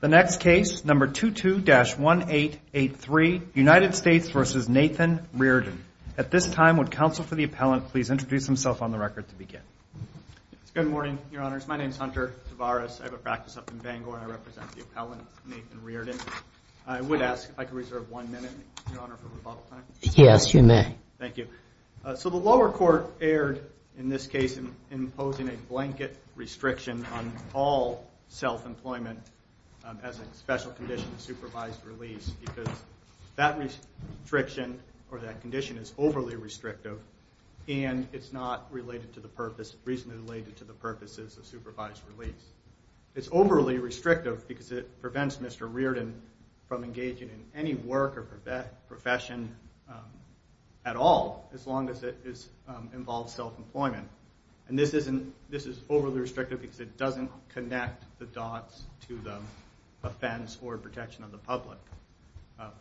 The next case, number 22-1883, United States v. Nathan Reardon. At this time, would counsel for the appellant please introduce himself on the record to begin? Good morning, Your Honors. My name is Hunter Tavares. I have a practice up in Bangor, and I represent the appellant, Nathan Reardon. I would ask if I could reserve one minute, Your Honor, for rebuttal time. Yes, you may. Thank you. So the lower court erred in this case in imposing a blanket restriction on all self-employment as a special condition of supervised release because that restriction or that condition is overly restrictive, and it's not related to the purpose, reasonably related to the purposes of supervised release. It's overly restrictive because it prevents Mr. Reardon from engaging in any work or profession at all as long as it involves self-employment. And this is overly restrictive because it doesn't connect the dots to the offense or protection of the public.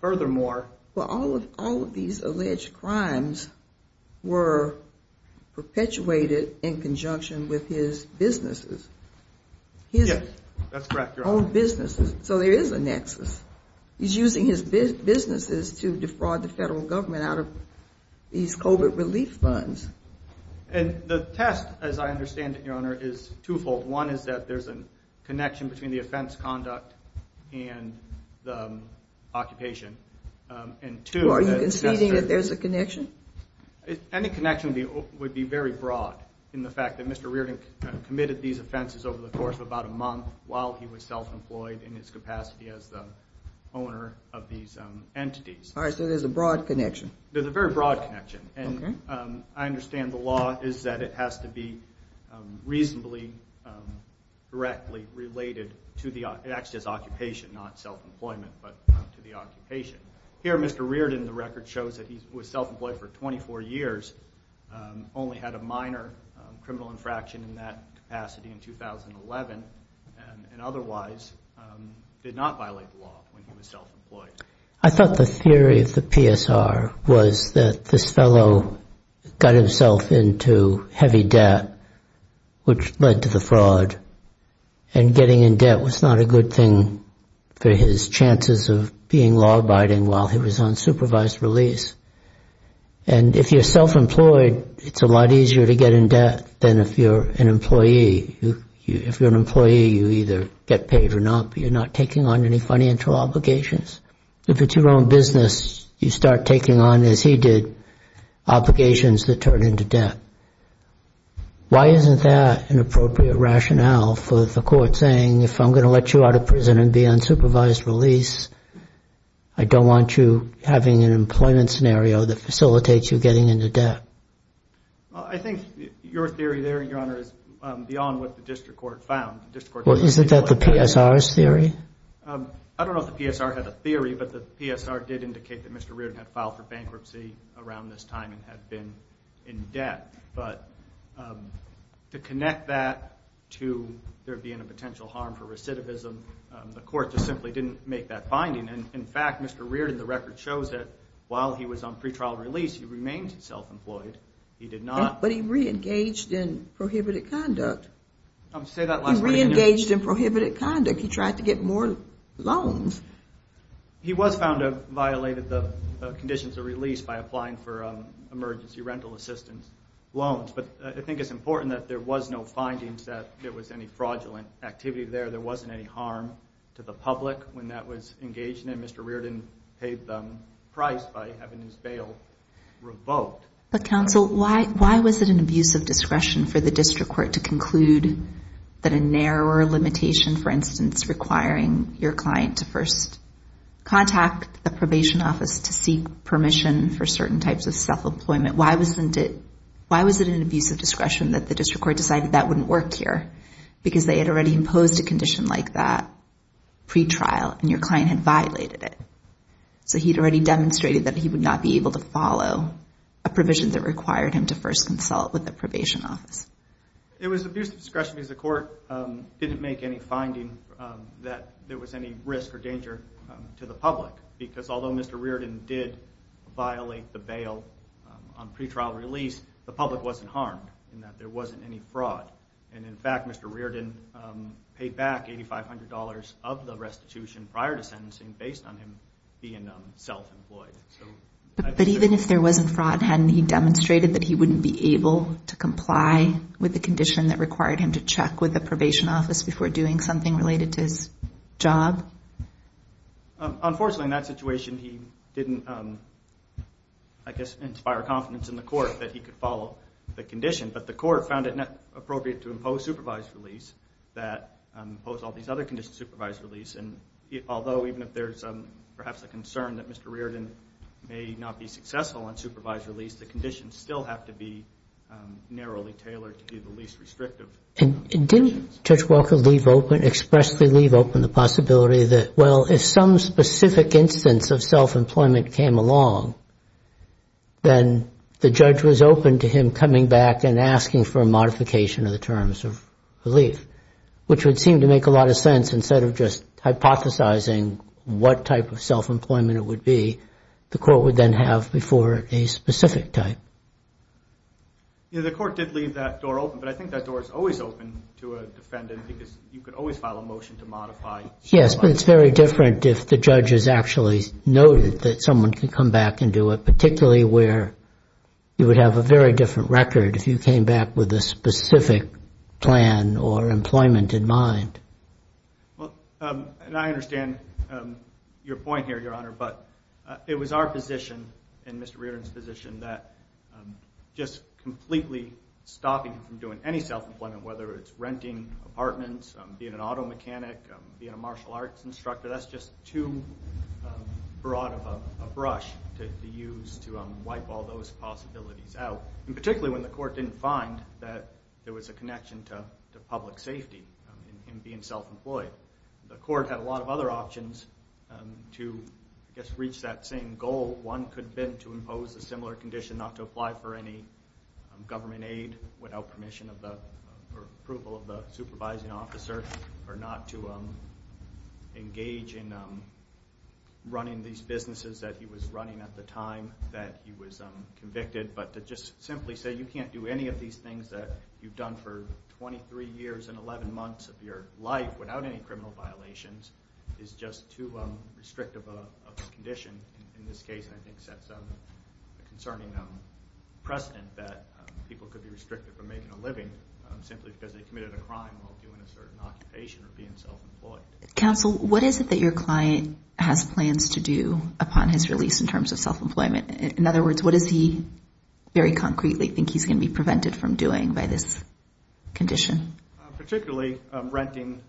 Furthermore... Well, all of these alleged crimes were perpetuated in conjunction with his businesses. Yes, that's correct, Your Honor. So there is a nexus. He's using his businesses to defraud the federal government out of these COVID relief funds. And the test, as I understand it, Your Honor, is twofold. One is that there's a connection between the offense conduct and the occupation. Are you conceding that there's a connection? Any connection would be very broad in the fact that Mr. Reardon committed these offenses over the course of about a month while he was self-employed in his capacity as the owner of these entities. All right, so there's a broad connection. There's a very broad connection. And I understand the law is that it has to be reasonably directly related to the actual occupation, not self-employment, but to the occupation. Here, Mr. Reardon, the record shows that he was self-employed for 24 years, only had a minor criminal infraction in that capacity in 2011, and otherwise did not violate the law when he was self-employed. I thought the theory of the PSR was that this fellow got himself into heavy debt, which led to the fraud. And getting in debt was not a good thing for his chances of being law-abiding while he was on supervised release. And if you're self-employed, it's a lot easier to get in debt than if you're an employee. If you're an employee, you either get paid or not. You're not taking on any financial obligations. If it's your own business, you start taking on, as he did, obligations that turn into debt. Why isn't that an appropriate rationale for the court saying, if I'm going to let you out of prison and be on supervised release, I don't want you having an employment scenario that facilitates you getting into debt? Well, I think your theory there, Your Honor, is beyond what the district court found. Well, isn't that the PSR's theory? I don't know if the PSR had a theory, but the PSR did indicate that Mr. Reardon had filed for bankruptcy around this time and had been in debt. But to connect that to there being a potential harm for recidivism, the court just simply didn't make that finding. And, in fact, Mr. Reardon, the record shows that while he was on pretrial release, he remained self-employed. He did not – But he reengaged in prohibited conduct. Say that last – He reengaged in prohibited conduct. He tried to get more loans. He was found to have violated the conditions of release by applying for emergency rental assistance loans. But I think it's important that there was no findings that there was any fraudulent activity there. There wasn't any harm to the public when that was engaged in, and Mr. Reardon paid the price by having his bail revoked. But, counsel, why was it an abuse of discretion for the district court to conclude that a narrower limitation, for instance, requiring your client to first contact the probation office to seek permission for certain types of self-employment, why wasn't it – why was it an abuse of discretion that the district court decided that wouldn't work here because they had already imposed a condition like that pretrial and your client had violated it? So he'd already demonstrated that he would not be able to follow a provision that required him to first consult with the probation office. It was abuse of discretion because the court didn't make any finding that there was any risk or danger to the public because although Mr. Reardon did violate the bail on pretrial release, the public wasn't harmed in that there wasn't any fraud. And, in fact, Mr. Reardon paid back $8,500 of the restitution prior to sentencing based on him being self-employed. But even if there wasn't fraud, hadn't he demonstrated that he wouldn't be able to comply with the condition that required him to check with the probation office before doing something related to his job? Unfortunately, in that situation, he didn't, I guess, inspire confidence in the court that he could follow the condition. But the court found it not appropriate to impose supervised release that imposed all these other conditions, supervised release. And although even if there's perhaps a concern that Mr. Reardon may not be successful on supervised release, the conditions still have to be narrowly tailored to be the least restrictive. And didn't Judge Walker leave open, expressly leave open the possibility that, well, if some specific instance of self-employment came along, then the judge was open to him coming back and asking for a modification of the terms of relief, which would seem to make a lot of sense. Instead of just hypothesizing what type of self-employment it would be, the court would then have before it a specific type. Yeah, the court did leave that door open. But I think that door is always open to a defendant because you could always file a motion to modify. Yes, but it's very different if the judge has actually noted that someone could come back and do it, particularly where you would have a very different record if you came back with a specific plan or employment in mind. Well, and I understand your point here, Your Honor, but it was our position and Mr. Reardon's position that just completely stopping him from doing any self-employment, whether it's renting apartments, being an auto mechanic, being a martial arts instructor, that's just too broad of a brush to use to wipe all those possibilities out, and particularly when the court didn't find that there was a connection to public safety in being self-employed. The court had a lot of other options to, I guess, reach that same goal. One could have been to impose a similar condition not to apply for any government aid without permission of the approval of the supervising officer or not to engage in running these businesses that he was running at the time that he was convicted. But to just simply say you can't do any of these things that you've done for 23 years and 11 months of your life without any criminal violations is just too restrictive of a condition in this case, and I think sets a concerning precedent that people could be restricted from making a living simply because they committed a crime while doing a certain occupation or being self-employed. Counsel, what is it that your client has plans to do upon his release in terms of self-employment? In other words, what does he very concretely think he's going to be prevented from doing by this condition? Particularly renting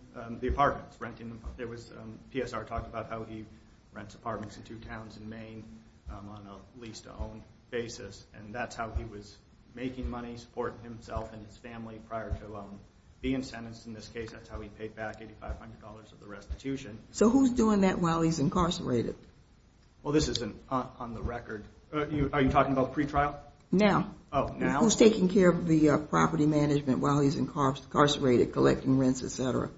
the apartments. PSR talked about how he rents apartments in two towns in Maine on a lease-to-own basis, and that's how he was making money, supporting himself and his family prior to being sentenced. In this case, that's how he paid back $8,500 of the restitution. So who's doing that while he's incarcerated? Well, this isn't on the record. Are you talking about pretrial? Now. Oh, now? Who's taking care of the property management while he's incarcerated, collecting rents, et cetera?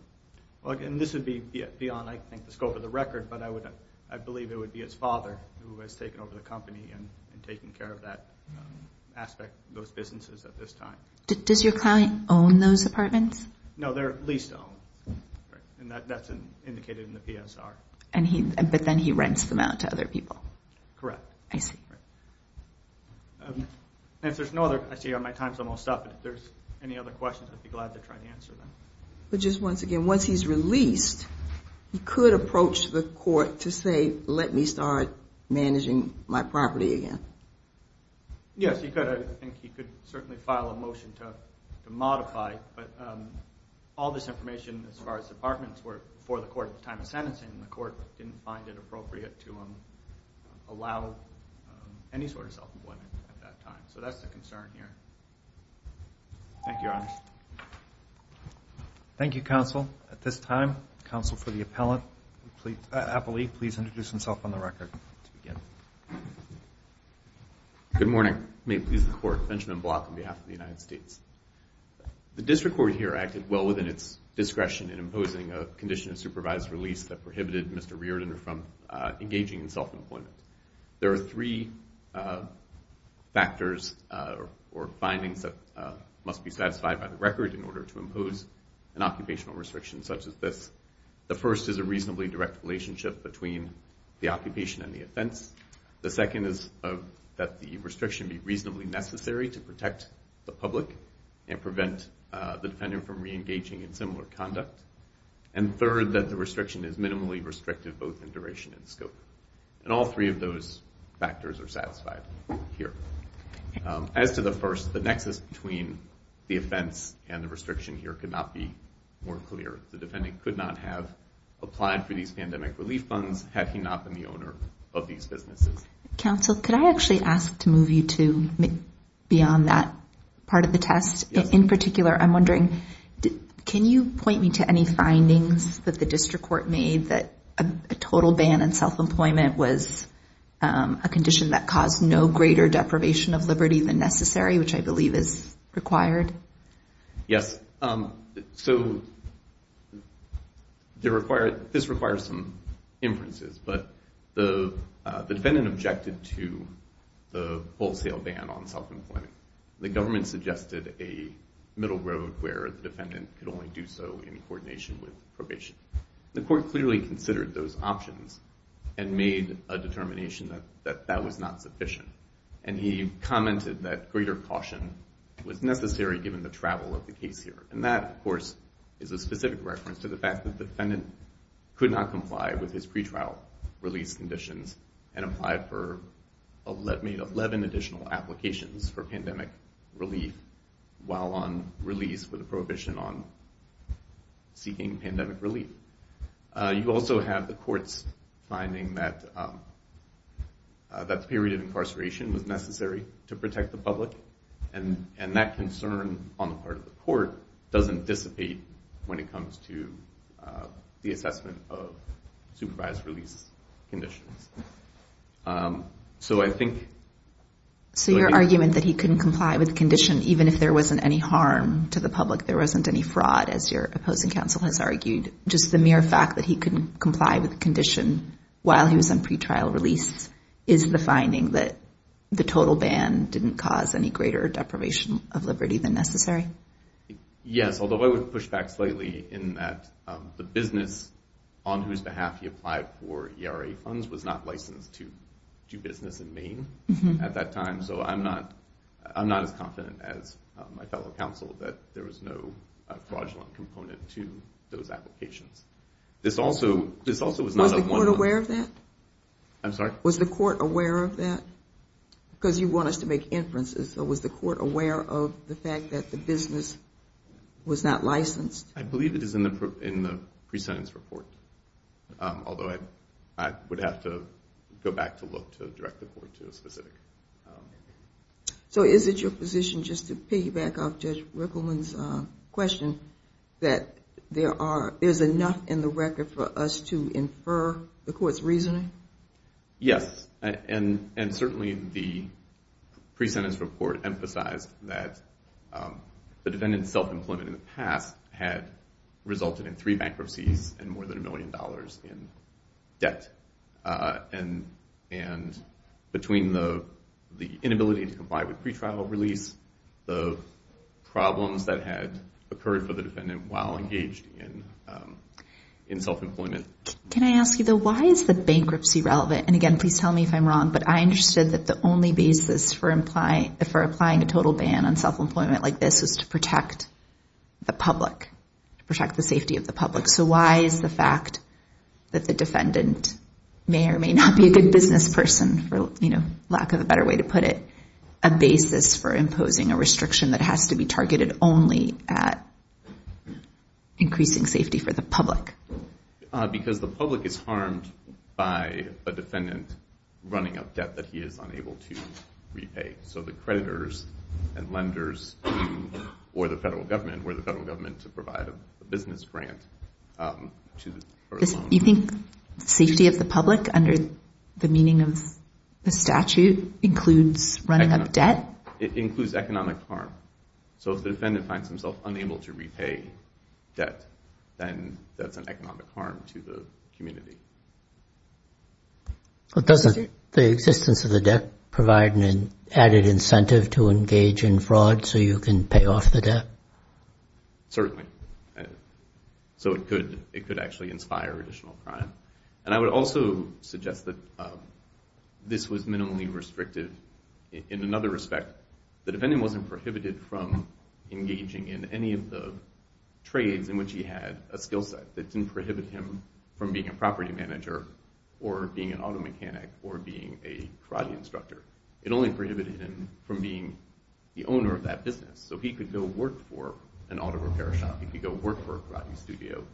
This would be beyond, I think, the scope of the record, but I believe it would be his father who has taken over the company and taken care of that aspect of those businesses at this time. Does your client own those apartments? No, they're lease-to-own, and that's indicated in the PSR. But then he rents them out to other people. Correct. I see. If there's no other questions, I see my time's almost up. If there's any other questions, I'd be glad to try to answer them. But just once again, once he's released, he could approach the court to say, let me start managing my property again. Yes, he could. I think he could certainly file a motion to modify, but all this information as far as apartments were before the court at the time of sentencing, and the court didn't find it appropriate to allow any sort of self-employment at that time. So that's the concern here. Thank you, Your Honor. Thank you, counsel. At this time, counsel for the appellee, please introduce himself on the record to begin. Good morning. May it please the Court. Benjamin Block on behalf of the United States. The district court here acted well within its discretion in imposing a condition of supervised release that prohibited Mr. Reardon from engaging in self-employment. There are three factors or findings that must be satisfied by the record in order to impose an occupational restriction such as this. The first is a reasonably direct relationship between the occupation and the offense. The second is that the restriction be reasonably necessary to protect the public and prevent the defendant from reengaging in similar conduct. And third, that the restriction is minimally restrictive both in duration and scope. And all three of those factors are satisfied here. As to the first, the nexus between the offense and the restriction here could not be more clear. The defendant could not have applied for these pandemic relief funds had he not been the owner of these businesses. Counsel, could I actually ask to move you to beyond that part of the test? Yes. In particular, I'm wondering, can you point me to any findings that the district court made that a total ban on self-employment was a condition that caused no greater deprivation of liberty than necessary, which I believe is required? Yes. So this requires some inferences, but the defendant objected to the wholesale ban on self-employment. The government suggested a middle road where the defendant could only do so in coordination with probation. The court clearly considered those options and made a determination that that was not sufficient, and he commented that greater caution was necessary given the travel of the case here. And that, of course, is a specific reference to the fact that the defendant could not comply with his pretrial release conditions and applied for 11 additional applications for pandemic relief while on release with a prohibition on seeking pandemic relief. You also have the court's finding that the period of incarceration was necessary to protect the public, and that concern on the part of the court doesn't dissipate when it comes to the assessment of supervised release conditions. So I think— So your argument that he couldn't comply with the condition even if there wasn't any harm to the public, there wasn't any fraud, as your opposing counsel has argued, just the mere fact that he couldn't comply with the condition while he was on pretrial release, is the finding that the total ban didn't cause any greater deprivation of liberty than necessary? Yes, although I would push back slightly in that the business on whose behalf he applied for ERA funds was not licensed to do business in Maine at that time, so I'm not as confident as my fellow counsel that there was no fraudulent component to those applications. This also was not a— Was the court aware of that? I'm sorry? Was the court aware of that? Because you want us to make inferences. So was the court aware of the fact that the business was not licensed? I believe it is in the pre-sentence report, although I would have to go back to look to direct the court to a specific— So is it your position, just to piggyback off Judge Rickleman's question, that there's enough in the record for us to infer the court's reasoning? Yes, and certainly the pre-sentence report emphasized that the defendant's self-employment in the past had resulted in three bankruptcies and more than a million dollars in debt, and between the inability to comply with pretrial release, the problems that had occurred for the defendant while engaged in self-employment. Can I ask you, though, why is the bankruptcy relevant? And again, please tell me if I'm wrong, but I understood that the only basis for applying a total ban on self-employment like this is to protect the public, to protect the safety of the public. So why is the fact that the defendant may or may not be a good business person, for lack of a better way to put it, a basis for imposing a restriction that has to be targeted only at increasing safety for the public? Because the public is harmed by a defendant running up debt that he is unable to repay. So the creditors and lenders, or the federal government, were the federal government to provide a business grant for the loan. You think safety of the public under the meaning of the statute includes running up debt? It includes economic harm. So if the defendant finds himself unable to repay debt, then that's an economic harm to the community. But doesn't the existence of the debt provide an added incentive to engage in fraud so you can pay off the debt? Certainly. So it could actually inspire additional crime. And I would also suggest that this was minimally restrictive. In another respect, the defendant wasn't prohibited from engaging in any of the trades in which he had a skill set that didn't prohibit him from being a property manager or being an auto mechanic or being a karate instructor. It only prohibited him from being the owner of that business. So he could go work for an auto repair shop. He could go work for a karate studio.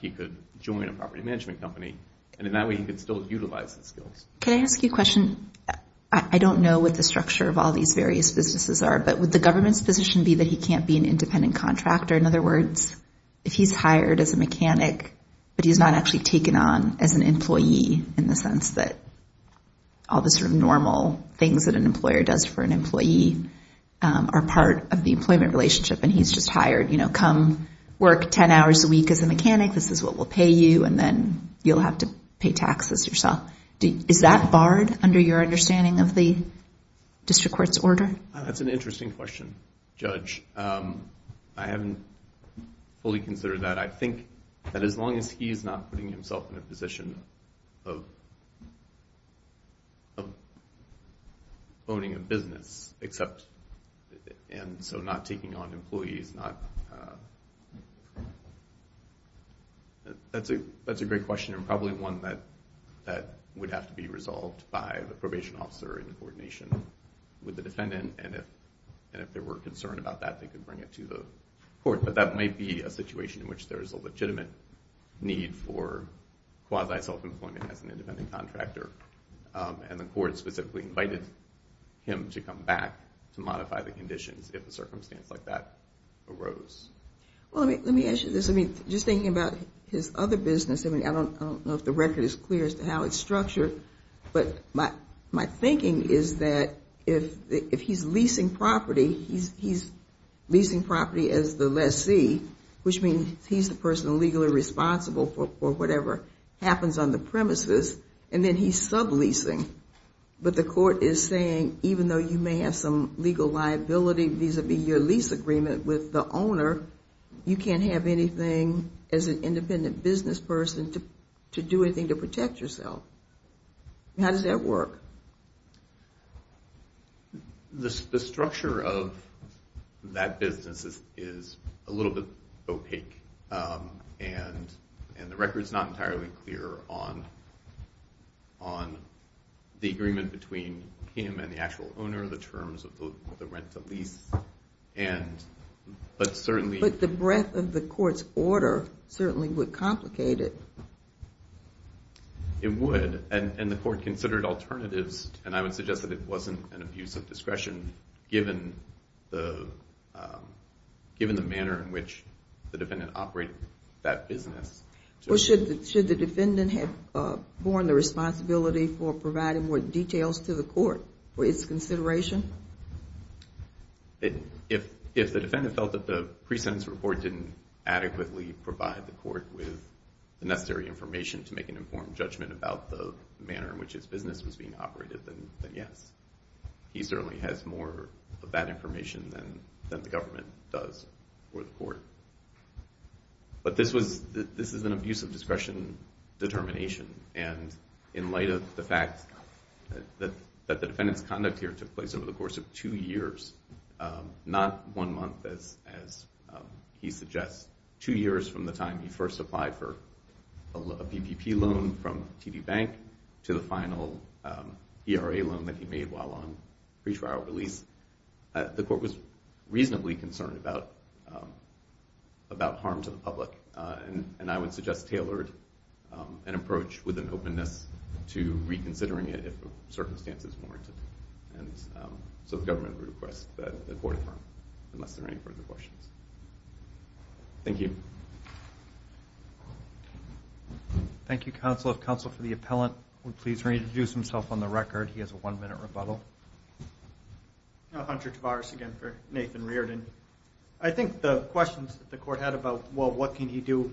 He could join a property management company. And in that way, he could still utilize his skills. Can I ask you a question? I don't know what the structure of all these various businesses are, but would the government's position be that he can't be an independent contractor? In other words, if he's hired as a mechanic but he's not actually taken on as an employee in the sense that all the sort of normal things that an employer does for an employee are part of the employment relationship and he's just hired, you know, come work 10 hours a week as a mechanic, this is what will pay you, and then you'll have to pay taxes yourself. Is that barred under your understanding of the district court's order? That's an interesting question, Judge. I haven't fully considered that. I think that as long as he's not putting himself in a position of owning a business and so not taking on employees, that's a great question and probably one that would have to be resolved by the probation officer in coordination with the defendant. And if there were a concern about that, they could bring it to the court. But that might be a situation in which there's a legitimate need for quasi-self-employment as an independent contractor. And the court specifically invited him to come back to modify the conditions if a circumstance like that arose. Well, let me ask you this. Just thinking about his other business, I don't know if the record is clear as to how it's structured, but my thinking is that if he's leasing property, he's leasing property as the lessee, which means he's the person legally responsible for whatever happens on the premises, and then he's subleasing. But the court is saying even though you may have some legal liability vis-à-vis your lease agreement with the owner, you can't have anything as an independent business person to do anything to protect yourself. How does that work? The structure of that business is a little bit opaque, and the record's not entirely clear on the agreement between him and the actual owner, the terms of the rent-to-lease. But certainly... But the breadth of the court's order certainly would complicate it. It would, and the court considered alternatives, and I would suggest that it wasn't an abuse of discretion given the manner in which the defendant operated that business. Well, should the defendant have borne the responsibility for providing more details to the court for its consideration? If the defendant felt that the pre-sentence report didn't adequately provide the court with the necessary information to make an informed judgment about the manner in which its business was being operated, then yes. He certainly has more of that information than the government does for the court. But this is an abuse of discretion determination, and in light of the fact that the defendant's conduct here took place over the course of two years, not one month as he suggests, two years from the time he first applied for a PPP loan from TD Bank to the final ERA loan that he made while on pretrial release, the court was reasonably concerned about harm to the public, and I would suggest tailored and approach with an openness to reconsidering it if circumstances warrant it. And so the government would request that the court affirm, unless there are any further questions. Thank you. Thank you, counsel. If counsel for the appellant would please reintroduce himself on the record. He has a one-minute rebuttal. Hunter Tavares again for Nathan Reardon. I think the questions that the court had about, well, what can he do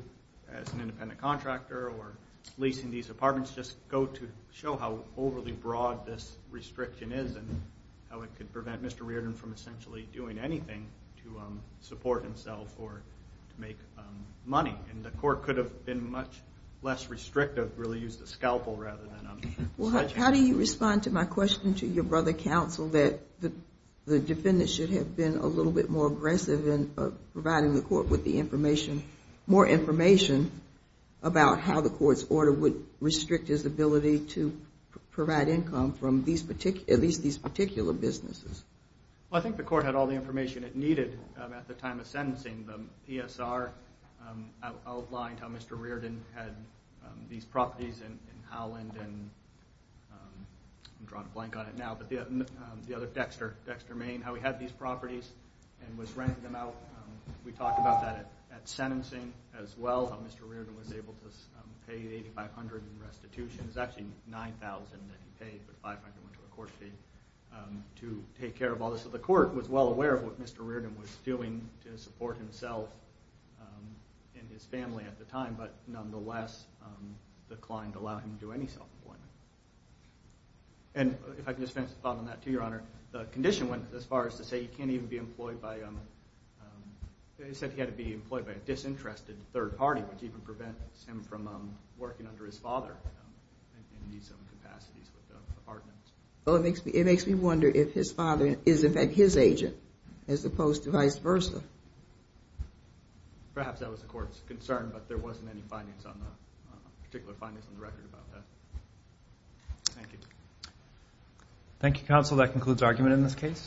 as an independent contractor or leasing these apartments, just go to show how overly broad this restriction is and how it could prevent Mr. Reardon from essentially doing anything to support himself or to make money. And the court could have been much less restrictive, really used a scalpel rather than a sledgehammer. How do you respond to my question to your brother, counsel, that the defendant should have been a little bit more aggressive in providing the court with the information, more information about how the court's order would restrict his ability to provide income from at least these particular businesses? Well, I think the court had all the information it needed at the time of sentencing. The PSR outlined how Mr. Reardon had these properties in Holland and I'm drawing a blank on it now, but the other Dexter, Dexter, Maine, how he had these properties and was renting them out. We talked about that at sentencing as well, how Mr. Reardon was able to pay 8,500 in restitution. It was actually 9,000 that he paid, but 500 went to the court fee to take care of all this. So the court was well aware of what Mr. Reardon was doing to support himself and his family at the time, but nonetheless declined to allow him to do any self-employment. And if I can just finish the thought on that too, Your Honor, the condition went as far as to say he can't even be employed by, they said he had to be employed by a disinterested third party, which even prevents him from working under his father in these capacities with the apartments. Well, it makes me wonder if his father is in fact his agent as opposed to vice versa. Perhaps that was the court's concern, but there wasn't any particular findings on the record about that. Thank you. Thank you, counsel. That concludes argument in this case.